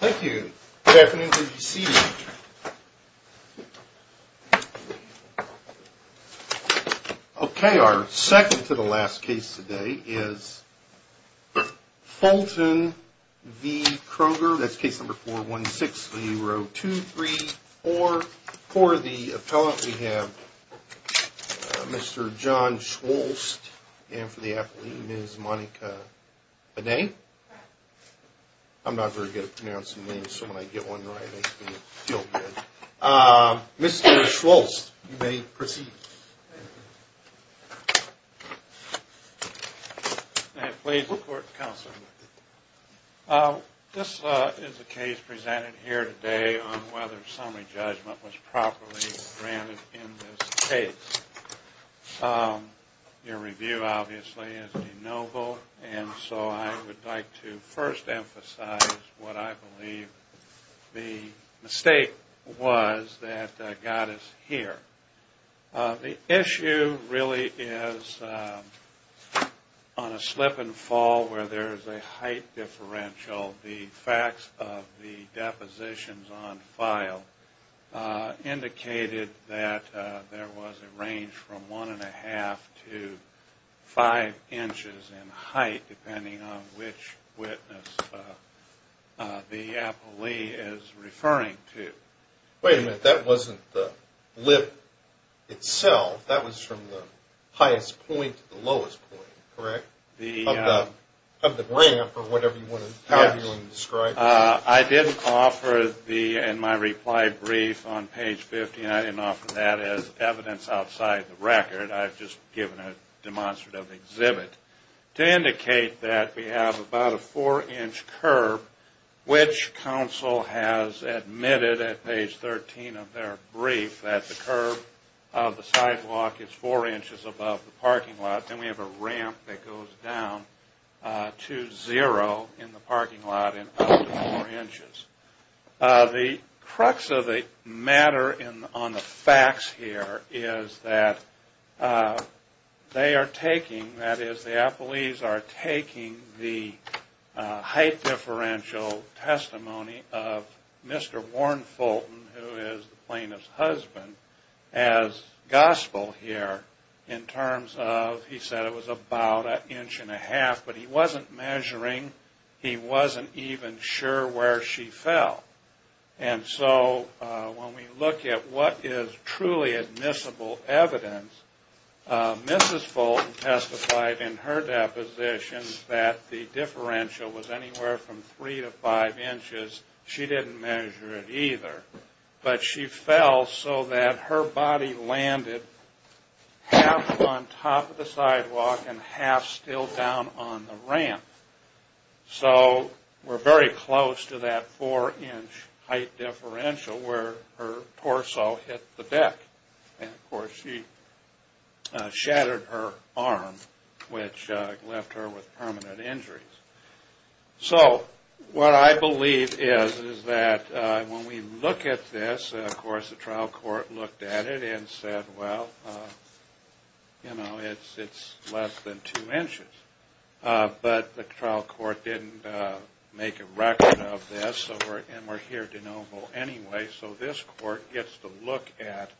Okay, our second to the last case today is Fulton v. Kroger. That's case number 416-0234. For the appellant we have Mr. John Schwulst and for the athlete Ms. Monica Benet. I'm not very good at pronouncing names so when I get one right it makes me feel good. Mr. Schwulst, you may proceed. May I please report to counsel? This is a case presented here today on whether summary judgment was properly granted in this case. Your review obviously is de noble and so I would like to first emphasize what I believe the mistake was that God is here. The issue really is on a slip and fall where there is a height differential. The facts of the depositions on file indicated that there was a range from one and a half to five inches in height depending on which witness the appellee is referring to. Wait a minute, that wasn't the lip itself, that was from the highest point to the lowest point, correct? Of the ramp or whatever you want to describe. I didn't offer in my reply brief on page 15, I didn't offer that as evidence outside the record, I've just given a demonstrative exhibit to indicate that we have about a four inch curb which counsel has admitted at page 13 of their brief that the curb of the sidewalk is four inches above the parking lot and we have a ramp that goes down to zero in the parking lot. The crux of the matter on the facts here is that they are taking, that is the appellees are taking the height differential testimony of Mr. Warren Fulton who is the plaintiff's husband as gospel here in terms of, he said it was about an inch and a half, but he wasn't measuring, he wasn't even looking at the height. He wasn't even sure where she fell and so when we look at what is truly admissible evidence, Mrs. Fulton testified in her deposition that the differential was anywhere from three to five inches, she didn't measure it either, but she fell so that her body landed half on top of the sidewalk and half still down on the ramp. So we are very close to that four inch height differential where her torso hit the deck and of course she shattered her arm which left her with permanent injuries. So what I believe is that when we look at this, of course the trial court looked at it and said well, you know, it's less than two inches, but the trial court didn't make a record of this and we are here to know more anyway so this court gets to look at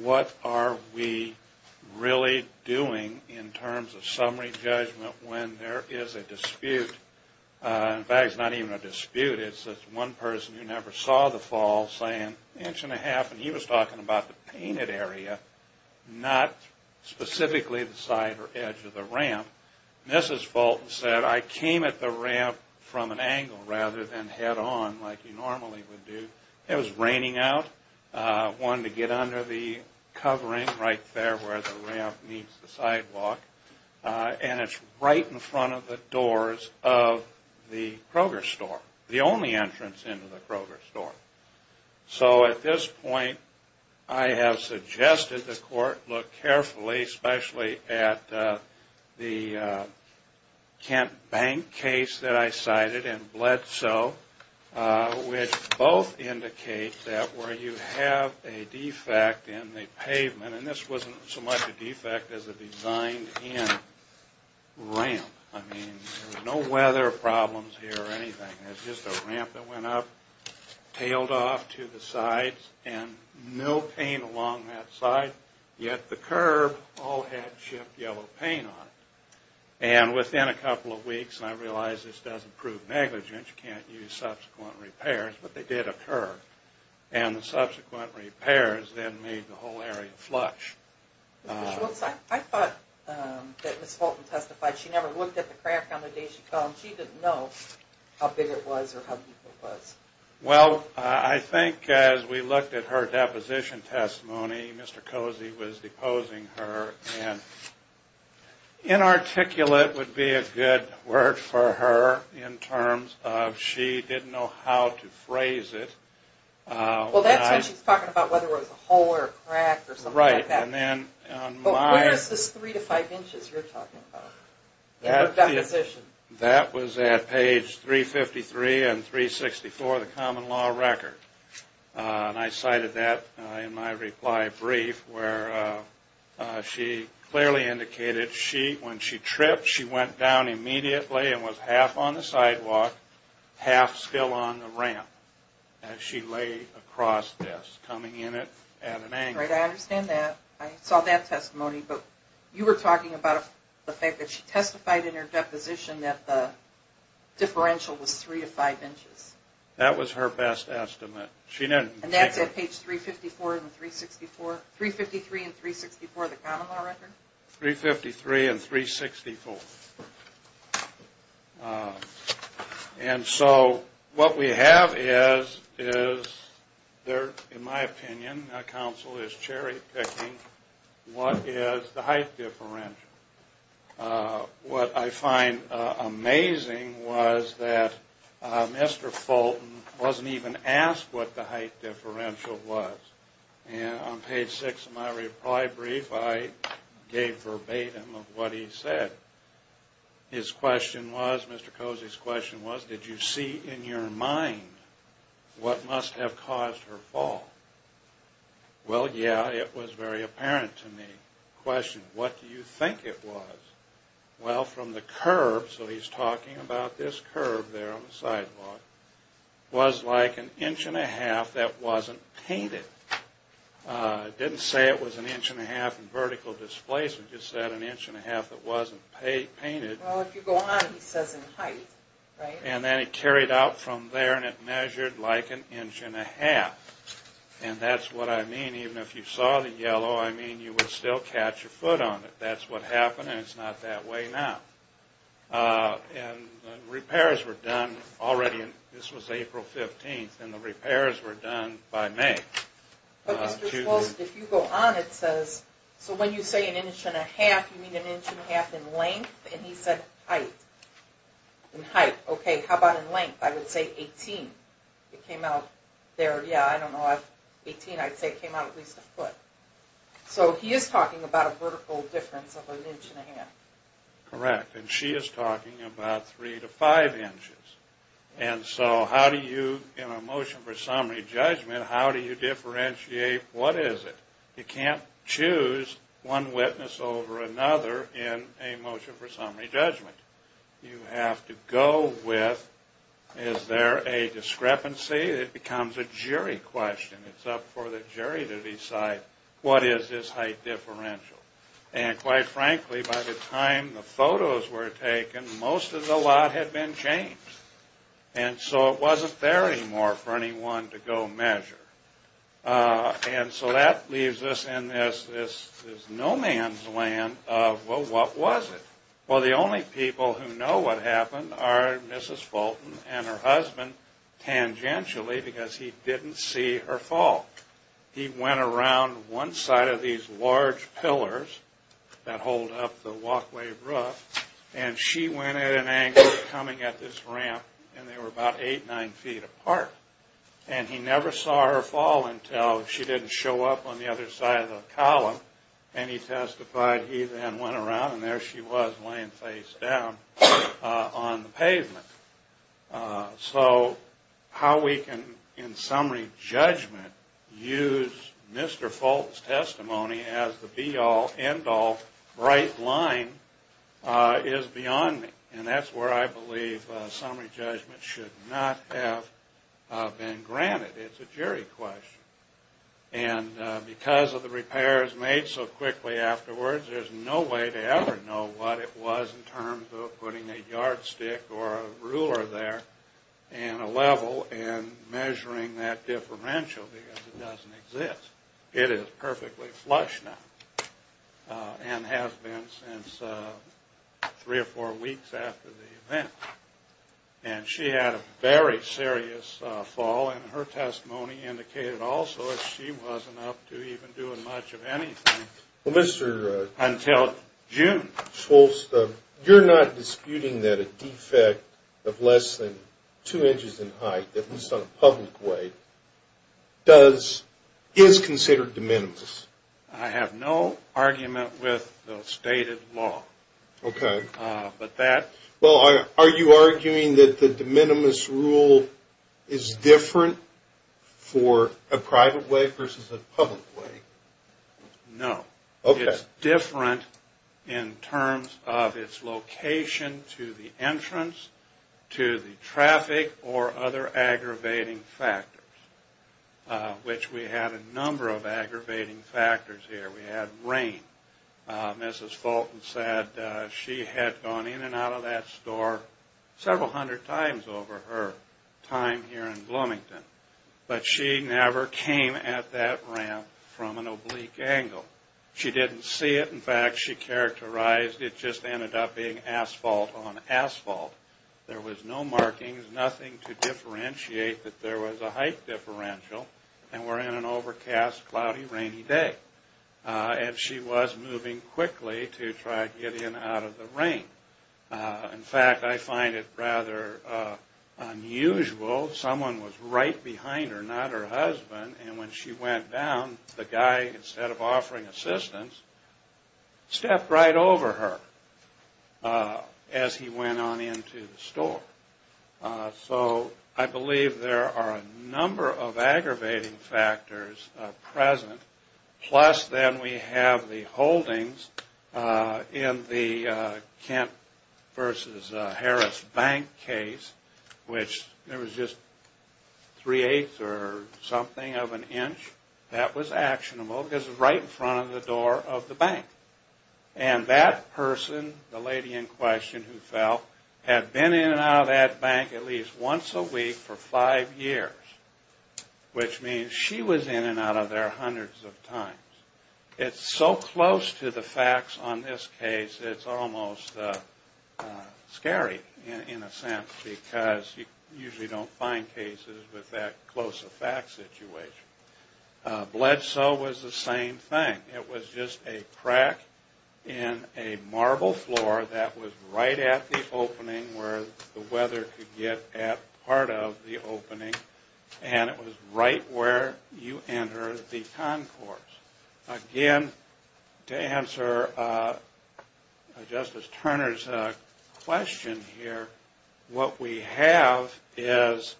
what are we really doing in terms of summary judgment when there is a dispute, in fact it's not even a dispute, it's just one person who never saw the fall saying an inch and a half and he was talking about the painted area, not specifically the side or edge of the ramp. Mrs. Fulton said I came at the ramp from an angle rather than head on like you normally would do, it was raining out, I wanted to get under the covering right there where the ramp meets the sidewalk and it's right in front of the doors of the Kroger store, the only entrance into the Kroger store. So at this point I have suggested the court look carefully, especially at the Kent Bank case that I cited and Bledsoe which both indicate that where you have a defect in the pavement, and this wasn't so much a defect as a designed in ramp, I mean there was no weather problems here or anything, it was just a ramp that went up, tailed off to the sides and no paint along that side, yet the curb all had chipped yellow paint on it and within a couple of weeks I realized this doesn't prove negligence, you can't use subsequent repairs, but they did occur and the subsequent repairs then made the whole area flush. I thought that Mrs. Fulton testified she never looked at the crack on the day she fell and she didn't know how big it was or how deep it was. Well, I think as we looked at her deposition testimony, Mr. Cozy was deposing her and inarticulate would be a good word for her in terms of she didn't know how to phrase it. Well that's what she's talking about whether it was a hole or a crack or something like that. Right. But where is this 3 to 5 inches you're talking about in her deposition? That was at page 353 and 364 of the common law record and I cited that in my reply brief where she clearly indicated when she tripped she went down immediately and was half on the sidewalk, half still on the ramp as she lay across this coming in at an angle. Right, I understand that. I saw that testimony, but you were talking about the fact that she testified in her deposition that the differential was 3 to 5 inches. That was her best estimate. And that's at page 353 and 364 of the common law record? 353 and 364. And so what we have is, in my opinion, counsel is cherry picking what is the height differential. What I find amazing was that Mr. Fulton wasn't even asked what the height differential was. And on page 6 of my reply brief I gave verbatim of what he said. His question was, Mr. Cozy's question was, did you see in your mind what must have caused her fall? Well yeah, it was very apparent to me. Question, what do you think it was? Well from the curb, so he's talking about this curb there on the sidewalk, was like an inch and a half that wasn't painted. It didn't say it was an inch and a half in vertical displacement, it just said an inch and a half that wasn't painted. Well if you go on it says in height, right? And then it carried out from there and it measured like an inch and a half. And that's what I mean, even if you saw the yellow, I mean you would still catch your foot on it. That's what happened and it's not that way now. And repairs were done already, this was April 15th, and the repairs were done by May. But Mr. Schultz, if you go on it says, so when you say an inch and a half, you mean an inch and a half in length? And he said height. In height, okay, how about in length? I would say 18. It came out there, yeah, I don't know, 18, I'd say it came out at least a foot. So he is talking about a vertical difference of an inch and a half. Correct, and she is talking about three to five inches. And so how do you, in a motion for summary judgment, how do you differentiate what is it? You can't choose one witness over another in a motion for summary judgment. You have to go with, is there a discrepancy? It becomes a jury question. It's up for the jury to decide what is this height differential. And quite frankly, by the time the photos were taken, most of the lot had been changed. And so it wasn't there anymore for anyone to go measure. And so that leaves us in this no man's land of, well, what was it? Well, the only people who know what happened are Mrs. Fulton and her husband tangentially because he didn't see her fall. He went around one side of these large pillars that hold up the walkway roof, and she went at an angle coming at this ramp, and they were about eight, nine feet apart. And he never saw her fall until she didn't show up on the other side of the column. And he testified he then went around, and there she was laying face down on the pavement. So how we can, in summary judgment, use Mr. Fulton's testimony as the be-all, end-all, bright line is beyond me. And that's where I believe summary judgment should not have been granted. It's a jury question. And because of the repairs made so quickly afterwards, there's no way to ever know what it was in terms of putting a yardstick or a ruler there and a level and measuring that differential because it doesn't exist. It is perfectly flush now and has been since three or four weeks after the event. And she had a very serious fall, and her testimony indicated also that she wasn't up to even doing much of anything until June. Schultz, you're not disputing that a defect of less than two inches in height, at least on a public way, is considered de minimis? I have no argument with the stated law. Okay. Well, are you arguing that the de minimis rule is different for a private way versus a public way? No. Okay. It's different in terms of its location to the entrance, to the traffic, or other aggravating factors, which we had a number of aggravating factors here. We had rain. Mrs. Fulton said she had gone in and out of that store several hundred times over her time here in Bloomington, but she never came at that ramp from an oblique angle. She didn't see it. In fact, she characterized it just ended up being asphalt on asphalt. There was no markings, nothing to differentiate that there was a height differential, and we're in an overcast, cloudy, rainy day. And she was moving quickly to try to get in and out of the rain. In fact, I find it rather unusual. Someone was right behind her, not her husband, and when she went down, the guy, instead of offering assistance, stepped right over her as he went on into the store. So I believe there are a number of aggravating factors present, plus then we have the holdings in the Kent versus Harris Bank case, which there was just three-eighths or something of an inch. That was actionable because it was right in front of the door of the bank. And that person, the lady in question who fell, had been in and out of that bank at least once a week for five years, which means she was in and out of there hundreds of times. It's so close to the facts on this case, it's almost scary in a sense because you usually don't find cases with that close of fact situation. Bledsoe was the same thing. It was just a crack in a marble floor that was right at the opening where the weather could get at part of the opening, and it was right where you enter the concourse. Again, to answer Justice Turner's question here, what we have is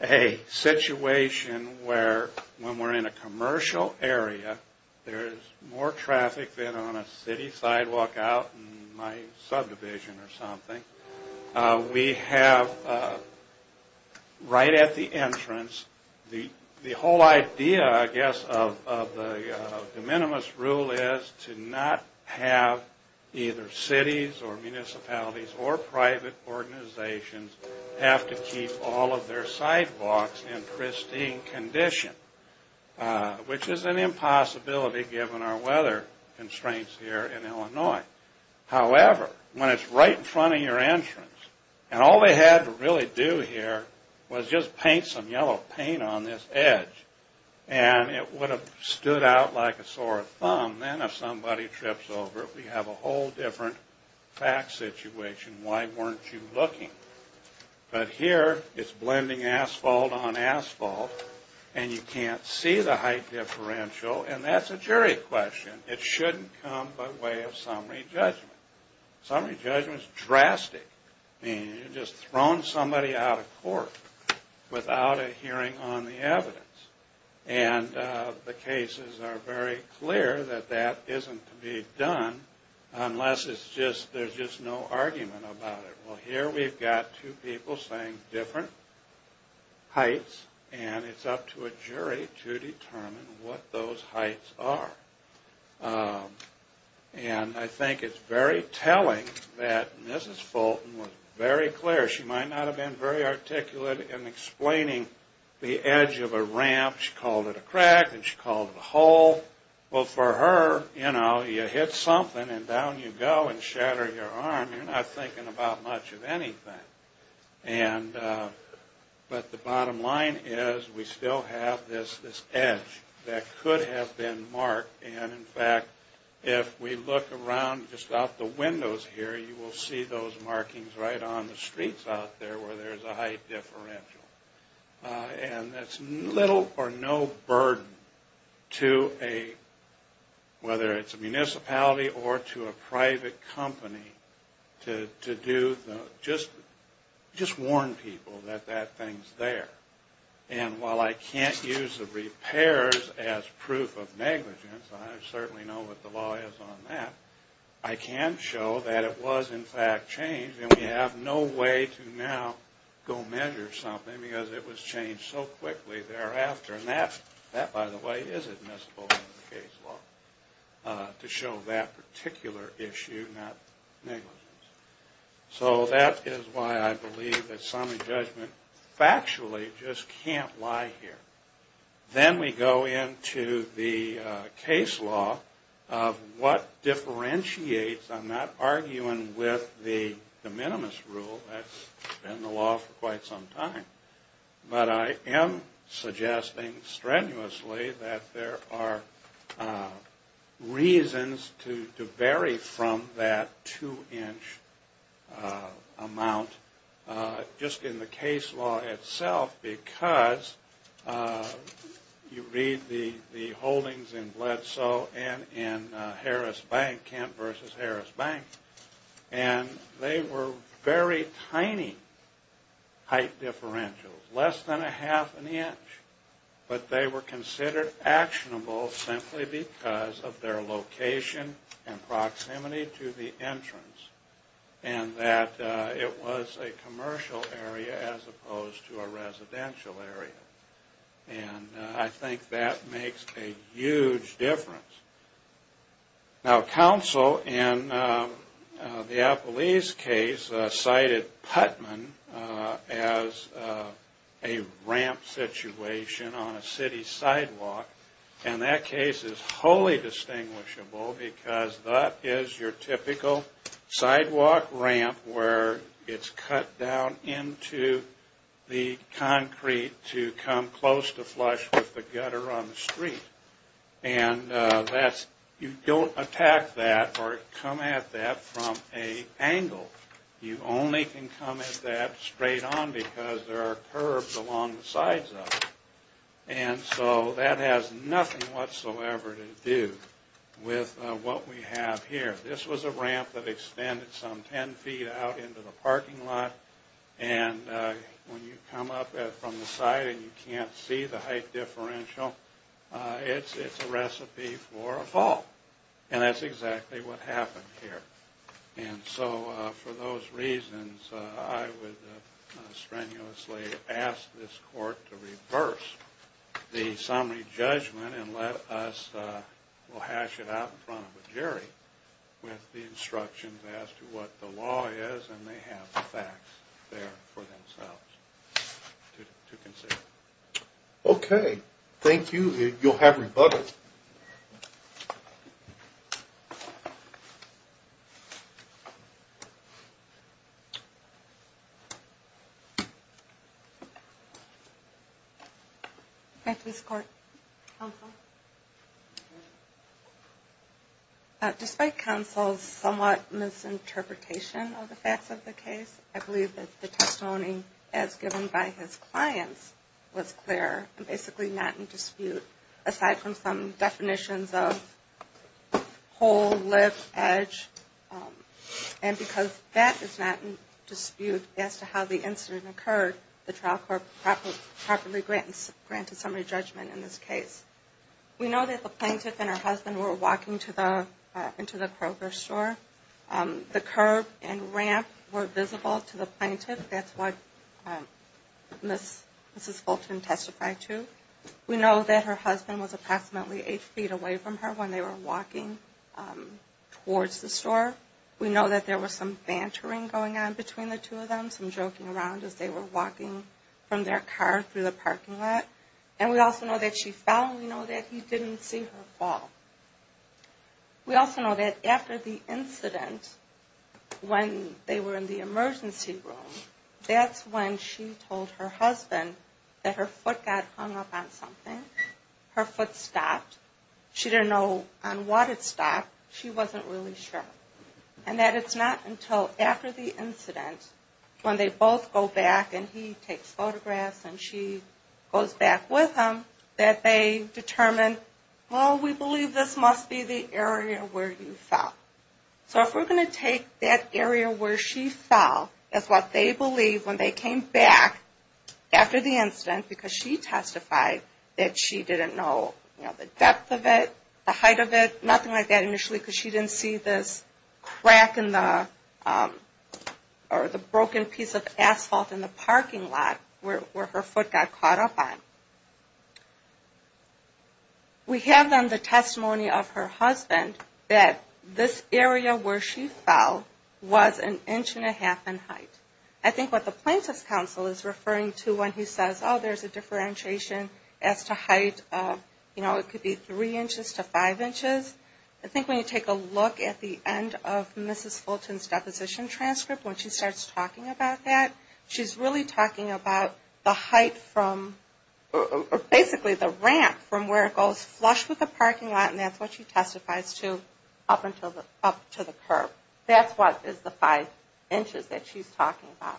a situation where when we're in a commercial area, there is more traffic than on a city sidewalk out in my subdivision or something. We have right at the entrance the whole idea, I guess, of the de minimis rule is to not have either cities or municipalities or private organizations have to keep all of their sidewalks in pristine condition, which is an impossibility given our weather constraints here in Illinois. However, when it's right in front of your entrance, and all they had to really do here was just paint some yellow paint on this edge, and it would have stood out like a sore thumb. Then if somebody trips over it, we have a whole different fact situation. Why weren't you looking? But here it's blending asphalt on asphalt, and you can't see the height differential, and that's a jury question. It shouldn't come by way of summary judgment. Summary judgment is drastic. I mean, you've just thrown somebody out of court without a hearing on the evidence, and the cases are very clear that that isn't to be done unless there's just no argument about it. Well, here we've got two people saying different heights, and it's up to a jury to determine what those heights are. And I think it's very telling that Mrs. Fulton was very clear. She might not have been very articulate in explaining the edge of a ramp. She called it a crack and she called it a hole. Well, for her, you know, you hit something and down you go and shatter your arm. You're not thinking about much of anything. But the bottom line is we still have this edge that could have been marked. And, in fact, if we look around just out the windows here, you will see those markings right on the streets out there where there's a height differential. And it's little or no burden to a, whether it's a municipality or to a private company, to do just warn people that that thing's there. And while I can't use the repairs as proof of negligence, I certainly know what the law is on that, I can show that it was, in fact, changed, and we have no way to now go measure something because it was changed so quickly thereafter. And that, by the way, is admissible in the case law to show that particular issue, not negligence. So that is why I believe that summary judgment factually just can't lie here. Then we go into the case law of what differentiates. I'm not arguing with the de minimis rule. That's been the law for quite some time. But I am suggesting strenuously that there are reasons to vary from that two-inch amount just in the case law itself because you read the holdings in Bledsoe and in Harris Bank, Kent versus Harris Bank, and they were very tiny height differentials, less than a half an inch. But they were considered actionable simply because of their location and proximity to the entrance and that it was a commercial area as opposed to a residential area. And I think that makes a huge difference. Now, counsel in the Appalese case cited Putman as a ramp situation on a city sidewalk, and that case is wholly distinguishable because that is your typical sidewalk ramp where it's cut down into the concrete to come close to flush with the gutter on the street. And you don't attack that or come at that from an angle. You only can come at that straight on because there are curbs along the sides of it. And so that has nothing whatsoever to do with what we have here. This was a ramp that extended some ten feet out into the parking lot, and when you come up from the side and you can't see the height differential, it's a recipe for a fall. And that's exactly what happened here. And so for those reasons, I would strenuously ask this court to reverse the summary judgment and let us hash it out in front of a jury with the instructions as to what the law is, and they have the facts there for themselves to consider. Okay. Thank you. You'll have rebuttal. Despite counsel's somewhat misinterpretation of the facts of the case, I believe that the testimony as given by his clients was clear and basically not in dispute, aside from some definitions of hole, lip, edge. And because that is not in dispute as to how the incident occurred, the trial court properly granted summary judgment in this case. We know that the plaintiff and her husband were walking into the Kroger store. The curb and ramp were visible to the plaintiff. That's what Mrs. Fulton testified to. We know that her husband was approximately eight feet away from her when they were walking towards the store. We know that there was some bantering going on between the two of them, some joking around as they were walking from their car through the parking lot. And we also know that she fell, and we know that he didn't see her fall. We also know that after the incident, when they were in the emergency room, that's when she told her husband that her foot got hung up on something, her foot stopped. She didn't know on what it stopped. She wasn't really sure. And that it's not until after the incident, when they both go back, and he takes photographs and she goes back with him, that they determine, well, we believe this must be the area where you fell. So if we're going to take that area where she fell, that's what they believe when they came back after the incident, because she testified that she didn't know the depth of it, the height of it, nothing like that initially because she didn't see this crack in the, or the broken piece of asphalt in the parking lot where her foot got caught up on. We have then the testimony of her husband that this area where she fell was an inch and a half in height. I think what the plaintiff's counsel is referring to when he says, oh, there's a differentiation as to height, you know, it could be three inches to five inches. I think when you take a look at the end of Mrs. Fulton's deposition transcript, when she starts talking about that, she's really talking about the height from, basically the ramp from where it goes flush with the parking lot, and that's what she testifies to up to the curb. That's what is the five inches that she's talking about.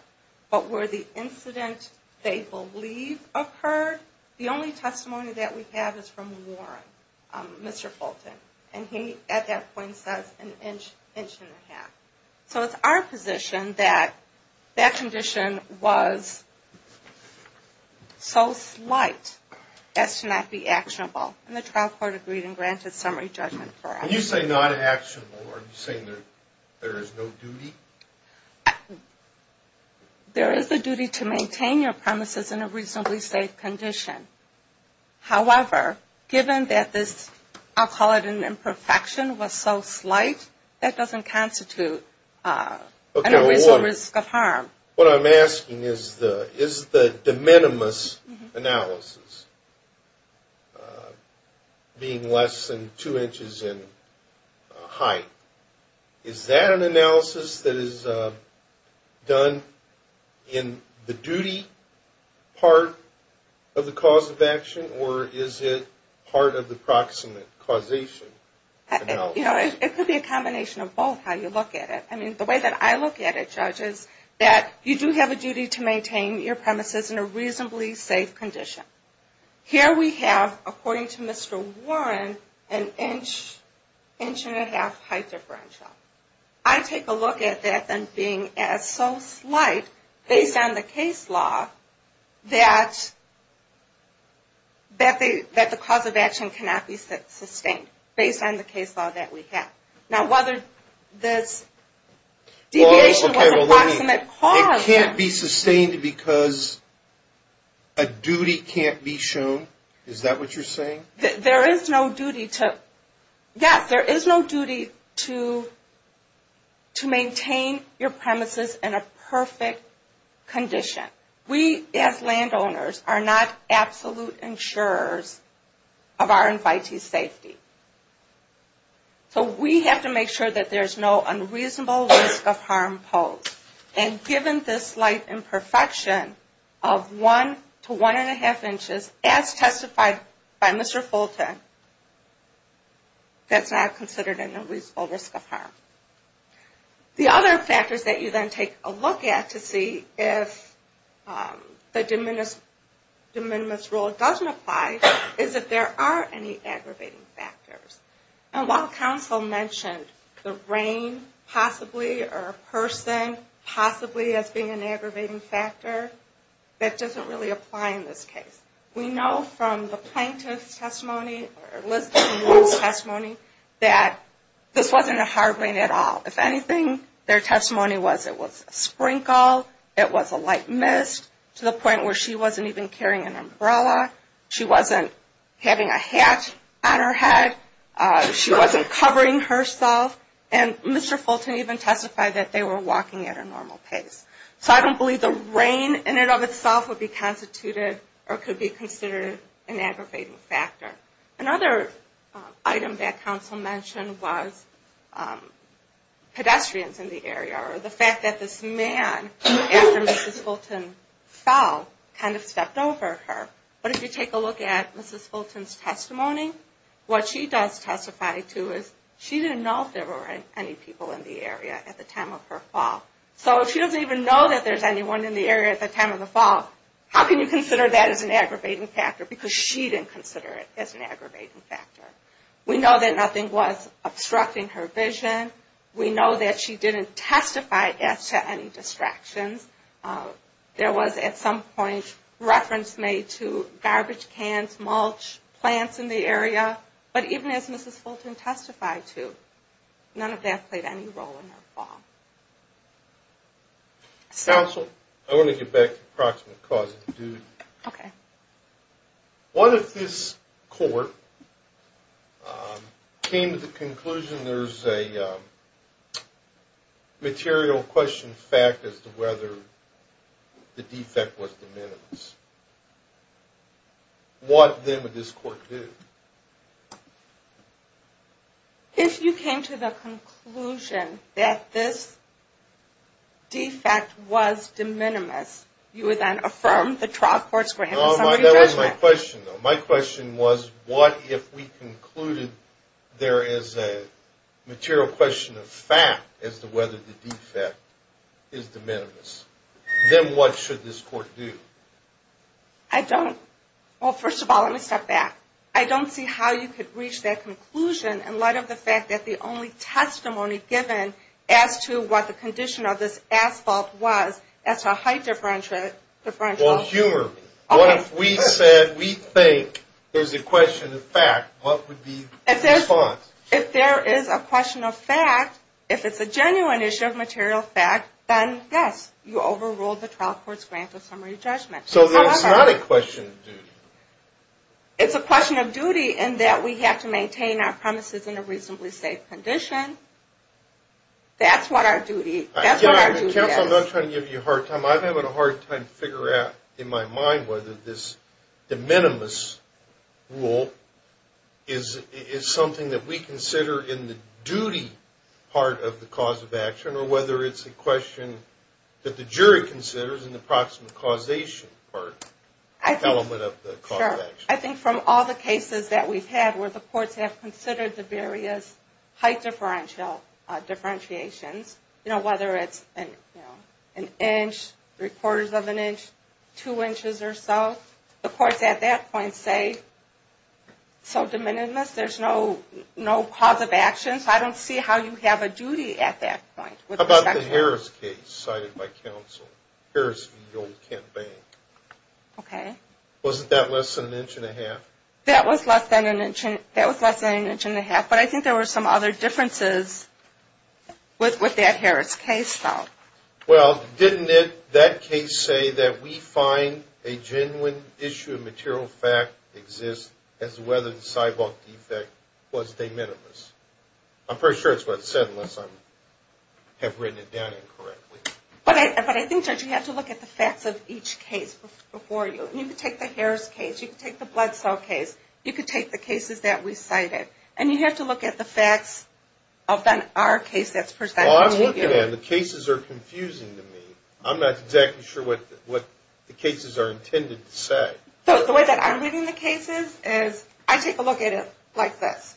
But where the incident they believe occurred, the only testimony that we have is from Warren, Mr. Fulton, and he at that point says an inch, inch and a half. So it's our position that that condition was so slight as to not be actionable, and the trial court agreed and granted summary judgment for us. When you say not actionable, are you saying there is no duty? There is a duty to maintain your premises in a reasonably safe condition. However, given that this, I'll call it an imperfection, was so slight, that doesn't constitute an unreasonable risk of harm. What I'm asking is, is the de minimis analysis being less than two inches in height, is that an analysis that is done in the duty part of the cause of action, or is it part of the proximate causation? You know, it could be a combination of both how you look at it. I mean, the way that I look at it, Judge, is that you do have a duty to maintain your premises in a reasonably safe condition. Here we have, according to Mr. Warren, an inch, inch and a half height differential. I take a look at that as being so slight, based on the case law, that the cause of action cannot be sustained, based on the case law that we have. Now, whether this deviation was a proximate cause, it can't be sustained because a duty can't be shown. Is that what you're saying? There is no duty to, yes, there is no duty to maintain your premises in a perfect condition. We, as landowners, are not absolute insurers of our invitee's safety. So we have to make sure that there's no unreasonable risk of harm posed. And given this slight imperfection of one to one and a half inches, as testified by Mr. Fulton, that's not considered an unreasonable risk of harm. The other factors that you then take a look at to see if the de minimis rule doesn't apply, is if there are any aggravating factors. And while counsel mentioned the rain possibly, or a person possibly as being an aggravating factor, that doesn't really apply in this case. We know from the plaintiff's testimony, or Elizabeth's testimony, that this wasn't a hard rain at all. If anything, their testimony was it was a sprinkle, it was a light mist, to the point where she wasn't even carrying an umbrella, she wasn't having a hat on her head, she wasn't covering herself, and Mr. Fulton even testified that they were walking at a normal pace. So I don't believe the rain in and of itself would be constituted or could be considered an aggravating factor. Another item that counsel mentioned was pedestrians in the area, or the fact that this man, after Mrs. Fulton fell, kind of stepped over her. But if you take a look at Mrs. Fulton's testimony, what she does testify to is she didn't know if there were any people in the area at the time of her fall. So if she doesn't even know that there's anyone in the area at the time of the fall, how can you consider that as an aggravating factor? Because she didn't consider it as an aggravating factor. We know that nothing was obstructing her vision. We know that she didn't testify as to any distractions. There was, at some point, reference made to garbage cans, mulch, plants in the area. But even as Mrs. Fulton testified to, none of that played any role in her fall. Counsel, I want to get back to the approximate cause of the duty. Okay. What if this court came to the conclusion there's a material question fact as to whether the defect was de minimis? What then would this court do? If you came to the conclusion that this defect was de minimis, you would then affirm the trial court's grant of summary judgment. No, that was my question, though. My question was, what if we concluded there is a material question of fact as to whether the defect is de minimis? Then what should this court do? I don't. Well, first of all, let me step back. I don't see how you could reach that conclusion in light of the fact that the only testimony given as to what the condition of this asphalt was as to a height differential. Well, humor me. What if we said we think there's a question of fact, what would be the response? If there is a question of fact, if it's a genuine issue of material fact, then yes, you overruled the trial court's grant of summary judgment. So then it's not a question of duty. It's a question of duty in that we have to maintain our premises in a reasonably safe condition. That's what our duty is. Counsel, I'm not trying to give you a hard time. I'm having a hard time figuring out in my mind whether this de minimis rule is something that we consider in the duty part of the cause of action or whether it's a question that the jury considers in the proximate causation part, element of the cause of action. Sure. I think from all the cases that we've had where the courts have considered the various height differentiations, whether it's an inch, three-quarters of an inch, two inches or so, the courts at that point say, so de minimis, there's no cause of action. So I don't see how you have a duty at that point. How about the Harris case cited by counsel? Harris v. Old Kent Bank. Okay. Wasn't that less than an inch and a half? That was less than an inch and a half, but I think there were some other differences with that Harris case, though. Well, didn't that case say that we find a genuine issue of material fact exists as to whether the cyborg defect was de minimis? I'm pretty sure it's what it said unless I have written it down incorrectly. But I think, Judge, you have to look at the facts of each case before you. You can take the Harris case. You can take the Blood Cell case. You can take the cases that we cited. And you have to look at the facts of our case that's presented to you. Well, I'm looking at it. The cases are confusing to me. I'm not exactly sure what the cases are intended to say. The way that I'm reading the cases is I take a look at it like this.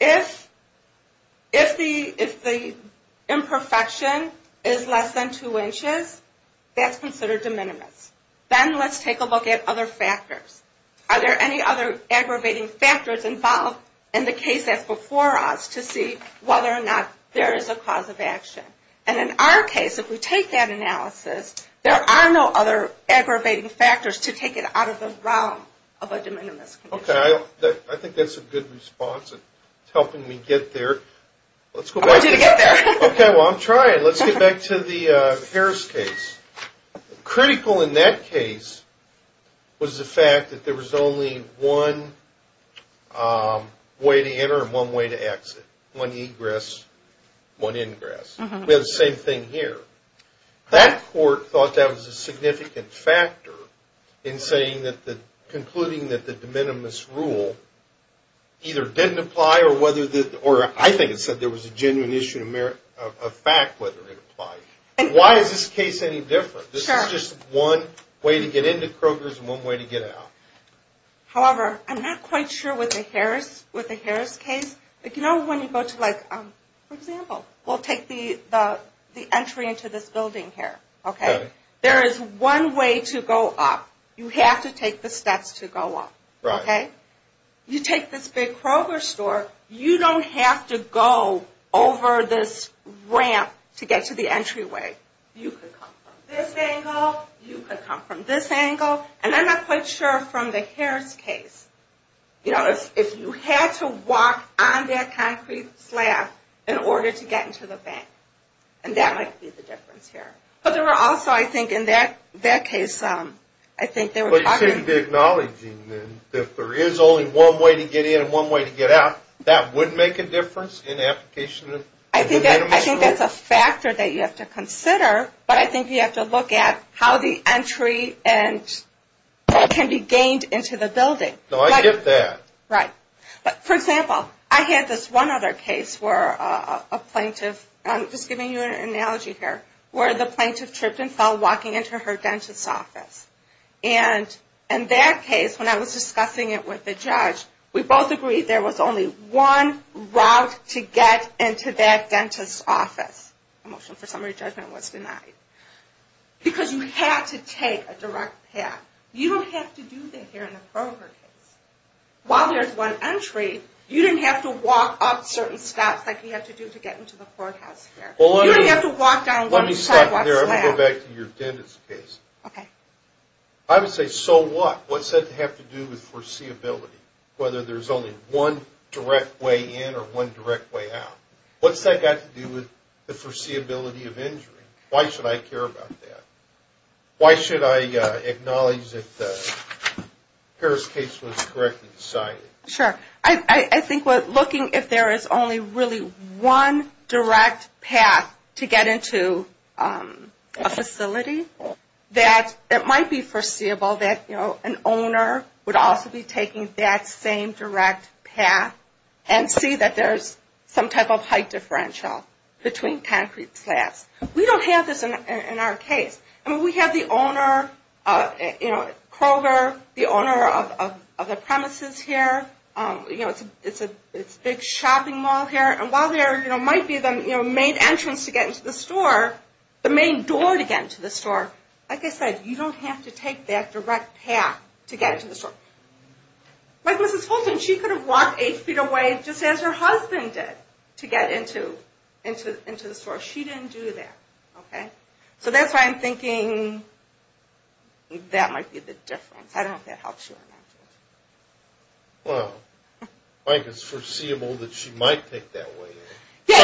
If the imperfection is less than two inches, that's considered de minimis. Then let's take a look at other factors. Are there any other aggravating factors involved in the case that's before us to see whether or not there is a cause of action? And in our case, if we take that analysis, there are no other aggravating factors to take it out of the realm of a de minimis condition. Okay. I think that's a good response in helping me get there. I want you to get there. Okay. Well, I'm trying. Let's get back to the Harris case. Critical in that case was the fact that there was only one way to enter and one way to exit, one egress, one ingress. We have the same thing here. That court thought that was a significant factor in concluding that the de minimis rule either didn't apply or, I think it said there was a genuine issue of fact whether it applied. Why is this case any different? This is just one way to get into Kroger's and one way to get out. However, I'm not quite sure with the Harris case. You know when you go to like, for example, we'll take the entry into this building here. Okay. There is one way to go up. You have to take the steps to go up. Right. Okay. You take this big Kroger store, you don't have to go over this ramp to get to the entryway. You could come from this angle. You could come from this angle. And I'm not quite sure from the Harris case, you know, if you had to walk on that concrete slab in order to get into the bank. And that might be the difference here. But there were also, I think, in that case, I think they were talking about But you seem to be acknowledging that if there is only one way to get in and one way to get out, that would make a difference in application of the de minimis rule? I think that's a factor that you have to consider. But I think you have to look at how the entry can be gained into the building. No, I get that. Right. But, for example, I had this one other case where a plaintiff, I'm just giving you an analogy here, where the plaintiff tripped and fell walking into her dentist's office. We both agreed there was only one route to get into that dentist's office. The motion for summary judgment was denied. Because you had to take a direct path. You don't have to do that here in the Berger case. While there's one entry, you didn't have to walk up certain steps like you have to do to get into the courthouse here. You didn't have to walk down one slab. Let me stop there and go back to your dentist's case. Okay. I would say so what? What's that have to do with foreseeability, whether there's only one direct way in or one direct way out? What's that got to do with the foreseeability of injury? Why should I care about that? Why should I acknowledge that the Harris case was correctly decided? Sure. I think looking if there is only really one direct path to get into a facility, that it might be foreseeable that an owner would also be taking that same direct path and see that there's some type of height differential between concrete slabs. We don't have this in our case. We have the owner, Kroger, the owner of the premises here. It's a big shopping mall here. While there might be the main entrance to get into the store, the main door to get into the store, like I said, you don't have to take that direct path to get into the store. Like Mrs. Fulton, she could have walked eight feet away just as her husband did to get into the store. She didn't do that. So that's why I'm thinking that might be the difference. I don't know if that helps you or not. Well, I think it's foreseeable that she might take that way in.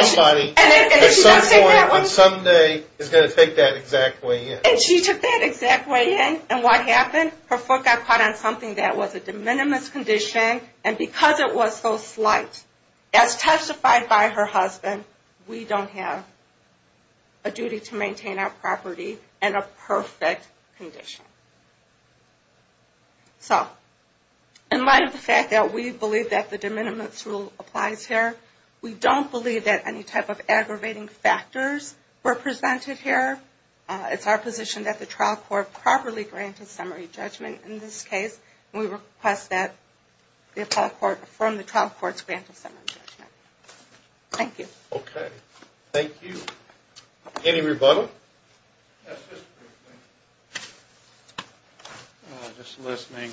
Somebody at some point on some day is going to take that exact way in. And she took that exact way in, and what happened? Her foot got caught on something that was a de minimis condition, and because it was so slight, as testified by her husband, we don't have a duty to maintain our property in a perfect condition. So in light of the fact that we believe that the de minimis rule applies here, we don't believe that any type of aggravating factors were presented here. It's our position that the trial court properly granted summary judgment in this case. We request that the appellate court affirm the trial court's grant of summary judgment. Thank you. Okay. Thank you. Any rebuttal? Just listening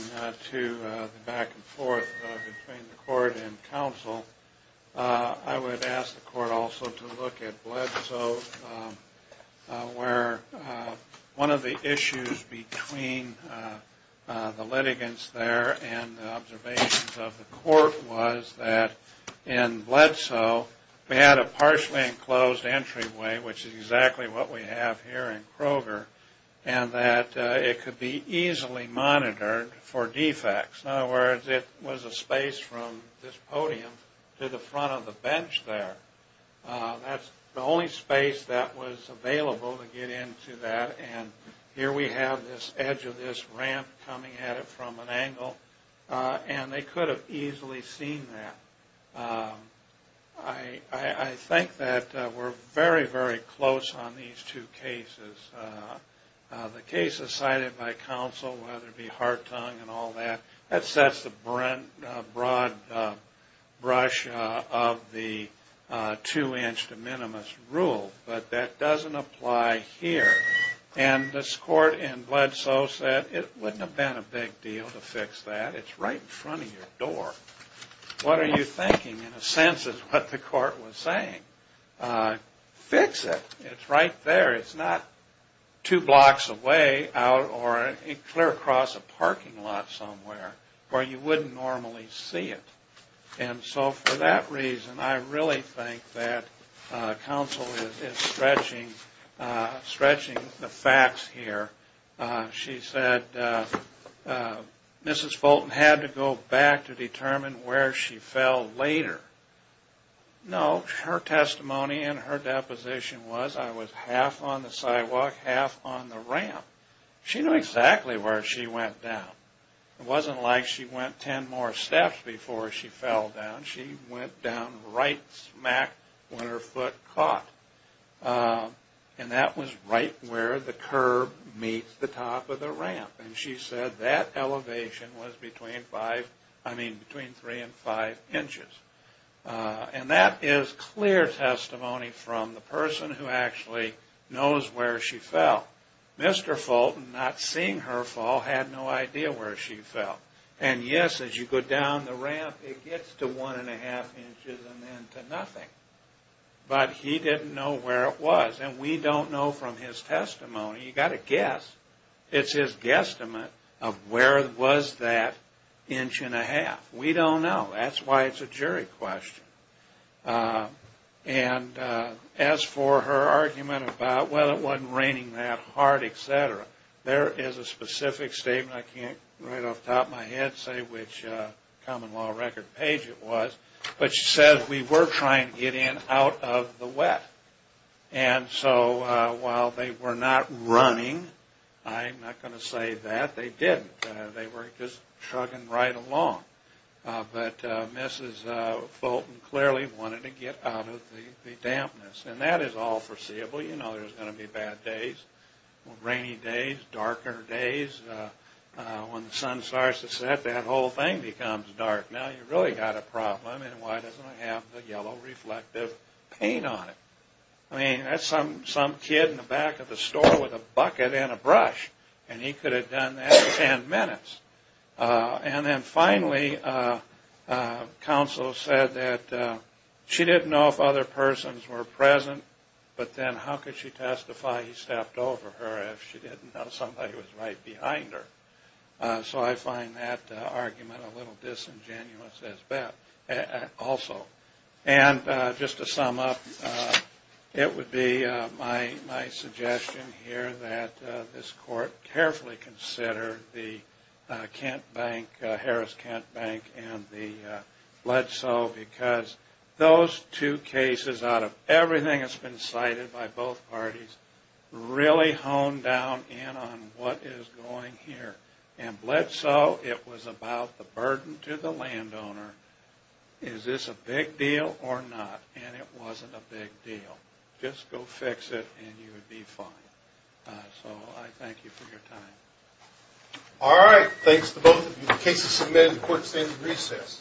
to the back and forth between the court and counsel, I would ask the court also to look at Bledsoe, where one of the issues between the litigants there and the observations of the court was that in Bledsoe, they had a partially enclosed entryway, which is exactly what we have here in Kroger, and that it could be easily monitored for defects. In other words, it was a space from this podium to the front of the bench there. That's the only space that was available to get into that, and here we have this edge of this ramp coming at it from an angle, and they could have easily seen that. I think that we're very, very close on these two cases. The cases cited by counsel, whether it be Hartung and all that, that sets the broad brush of the two-inch de minimis rule, but that doesn't apply here. And this court in Bledsoe said it wouldn't have been a big deal to fix that. It's right in front of your door. What are you thinking, in a sense, is what the court was saying. Fix it. It's right there. It's not two blocks away out or clear across a parking lot somewhere where you wouldn't normally see it. And so for that reason, I really think that counsel is stretching the facts here. She said Mrs. Fulton had to go back to determine where she fell later. No, her testimony and her deposition was I was half on the sidewalk, half on the ramp. She knew exactly where she went down. It wasn't like she went ten more steps before she fell down. She went down right smack when her foot caught, and that was right where the curb meets the top of the ramp. And she said that elevation was between three and five inches. And that is clear testimony from the person who actually knows where she fell. Mr. Fulton, not seeing her fall, had no idea where she fell. And, yes, as you go down the ramp, it gets to one and a half inches and then to nothing. But he didn't know where it was. And we don't know from his testimony. You've got to guess. It's his guesstimate of where was that inch and a half. We don't know. That's why it's a jury question. And as for her argument about, well, it wasn't raining that hard, et cetera, there is a specific statement, I can't right off the top of my head say which common law record page it was, but she said we were trying to get in out of the wet. And so while they were not running, I'm not going to say that, they didn't. They were just chugging right along. But Mrs. Fulton clearly wanted to get out of the dampness. And that is all foreseeable. You know there's going to be bad days, rainy days, darker days. When the sun starts to set, that whole thing becomes dark. Now you've really got a problem, and why doesn't it have the yellow reflective paint on it? I mean, that's some kid in the back of the store with a bucket and a brush, and he could have done that in ten minutes. And then finally, counsel said that she didn't know if other persons were present, but then how could she testify he stepped over her if she didn't know somebody was right behind her? So I find that argument a little disingenuous also. And just to sum up, it would be my suggestion here that this court carefully consider the Kent Bank, Harris-Kent Bank, and the Bledsoe, because those two cases out of everything that's been cited by both parties really hone down in on what is going here. And Bledsoe, it was about the burden to the landowner. Is this a big deal or not? And it wasn't a big deal. Just go fix it, and you'll be fine. So I thank you for your time. All right. Thanks to both of you. The case is submitted. The court is in recess.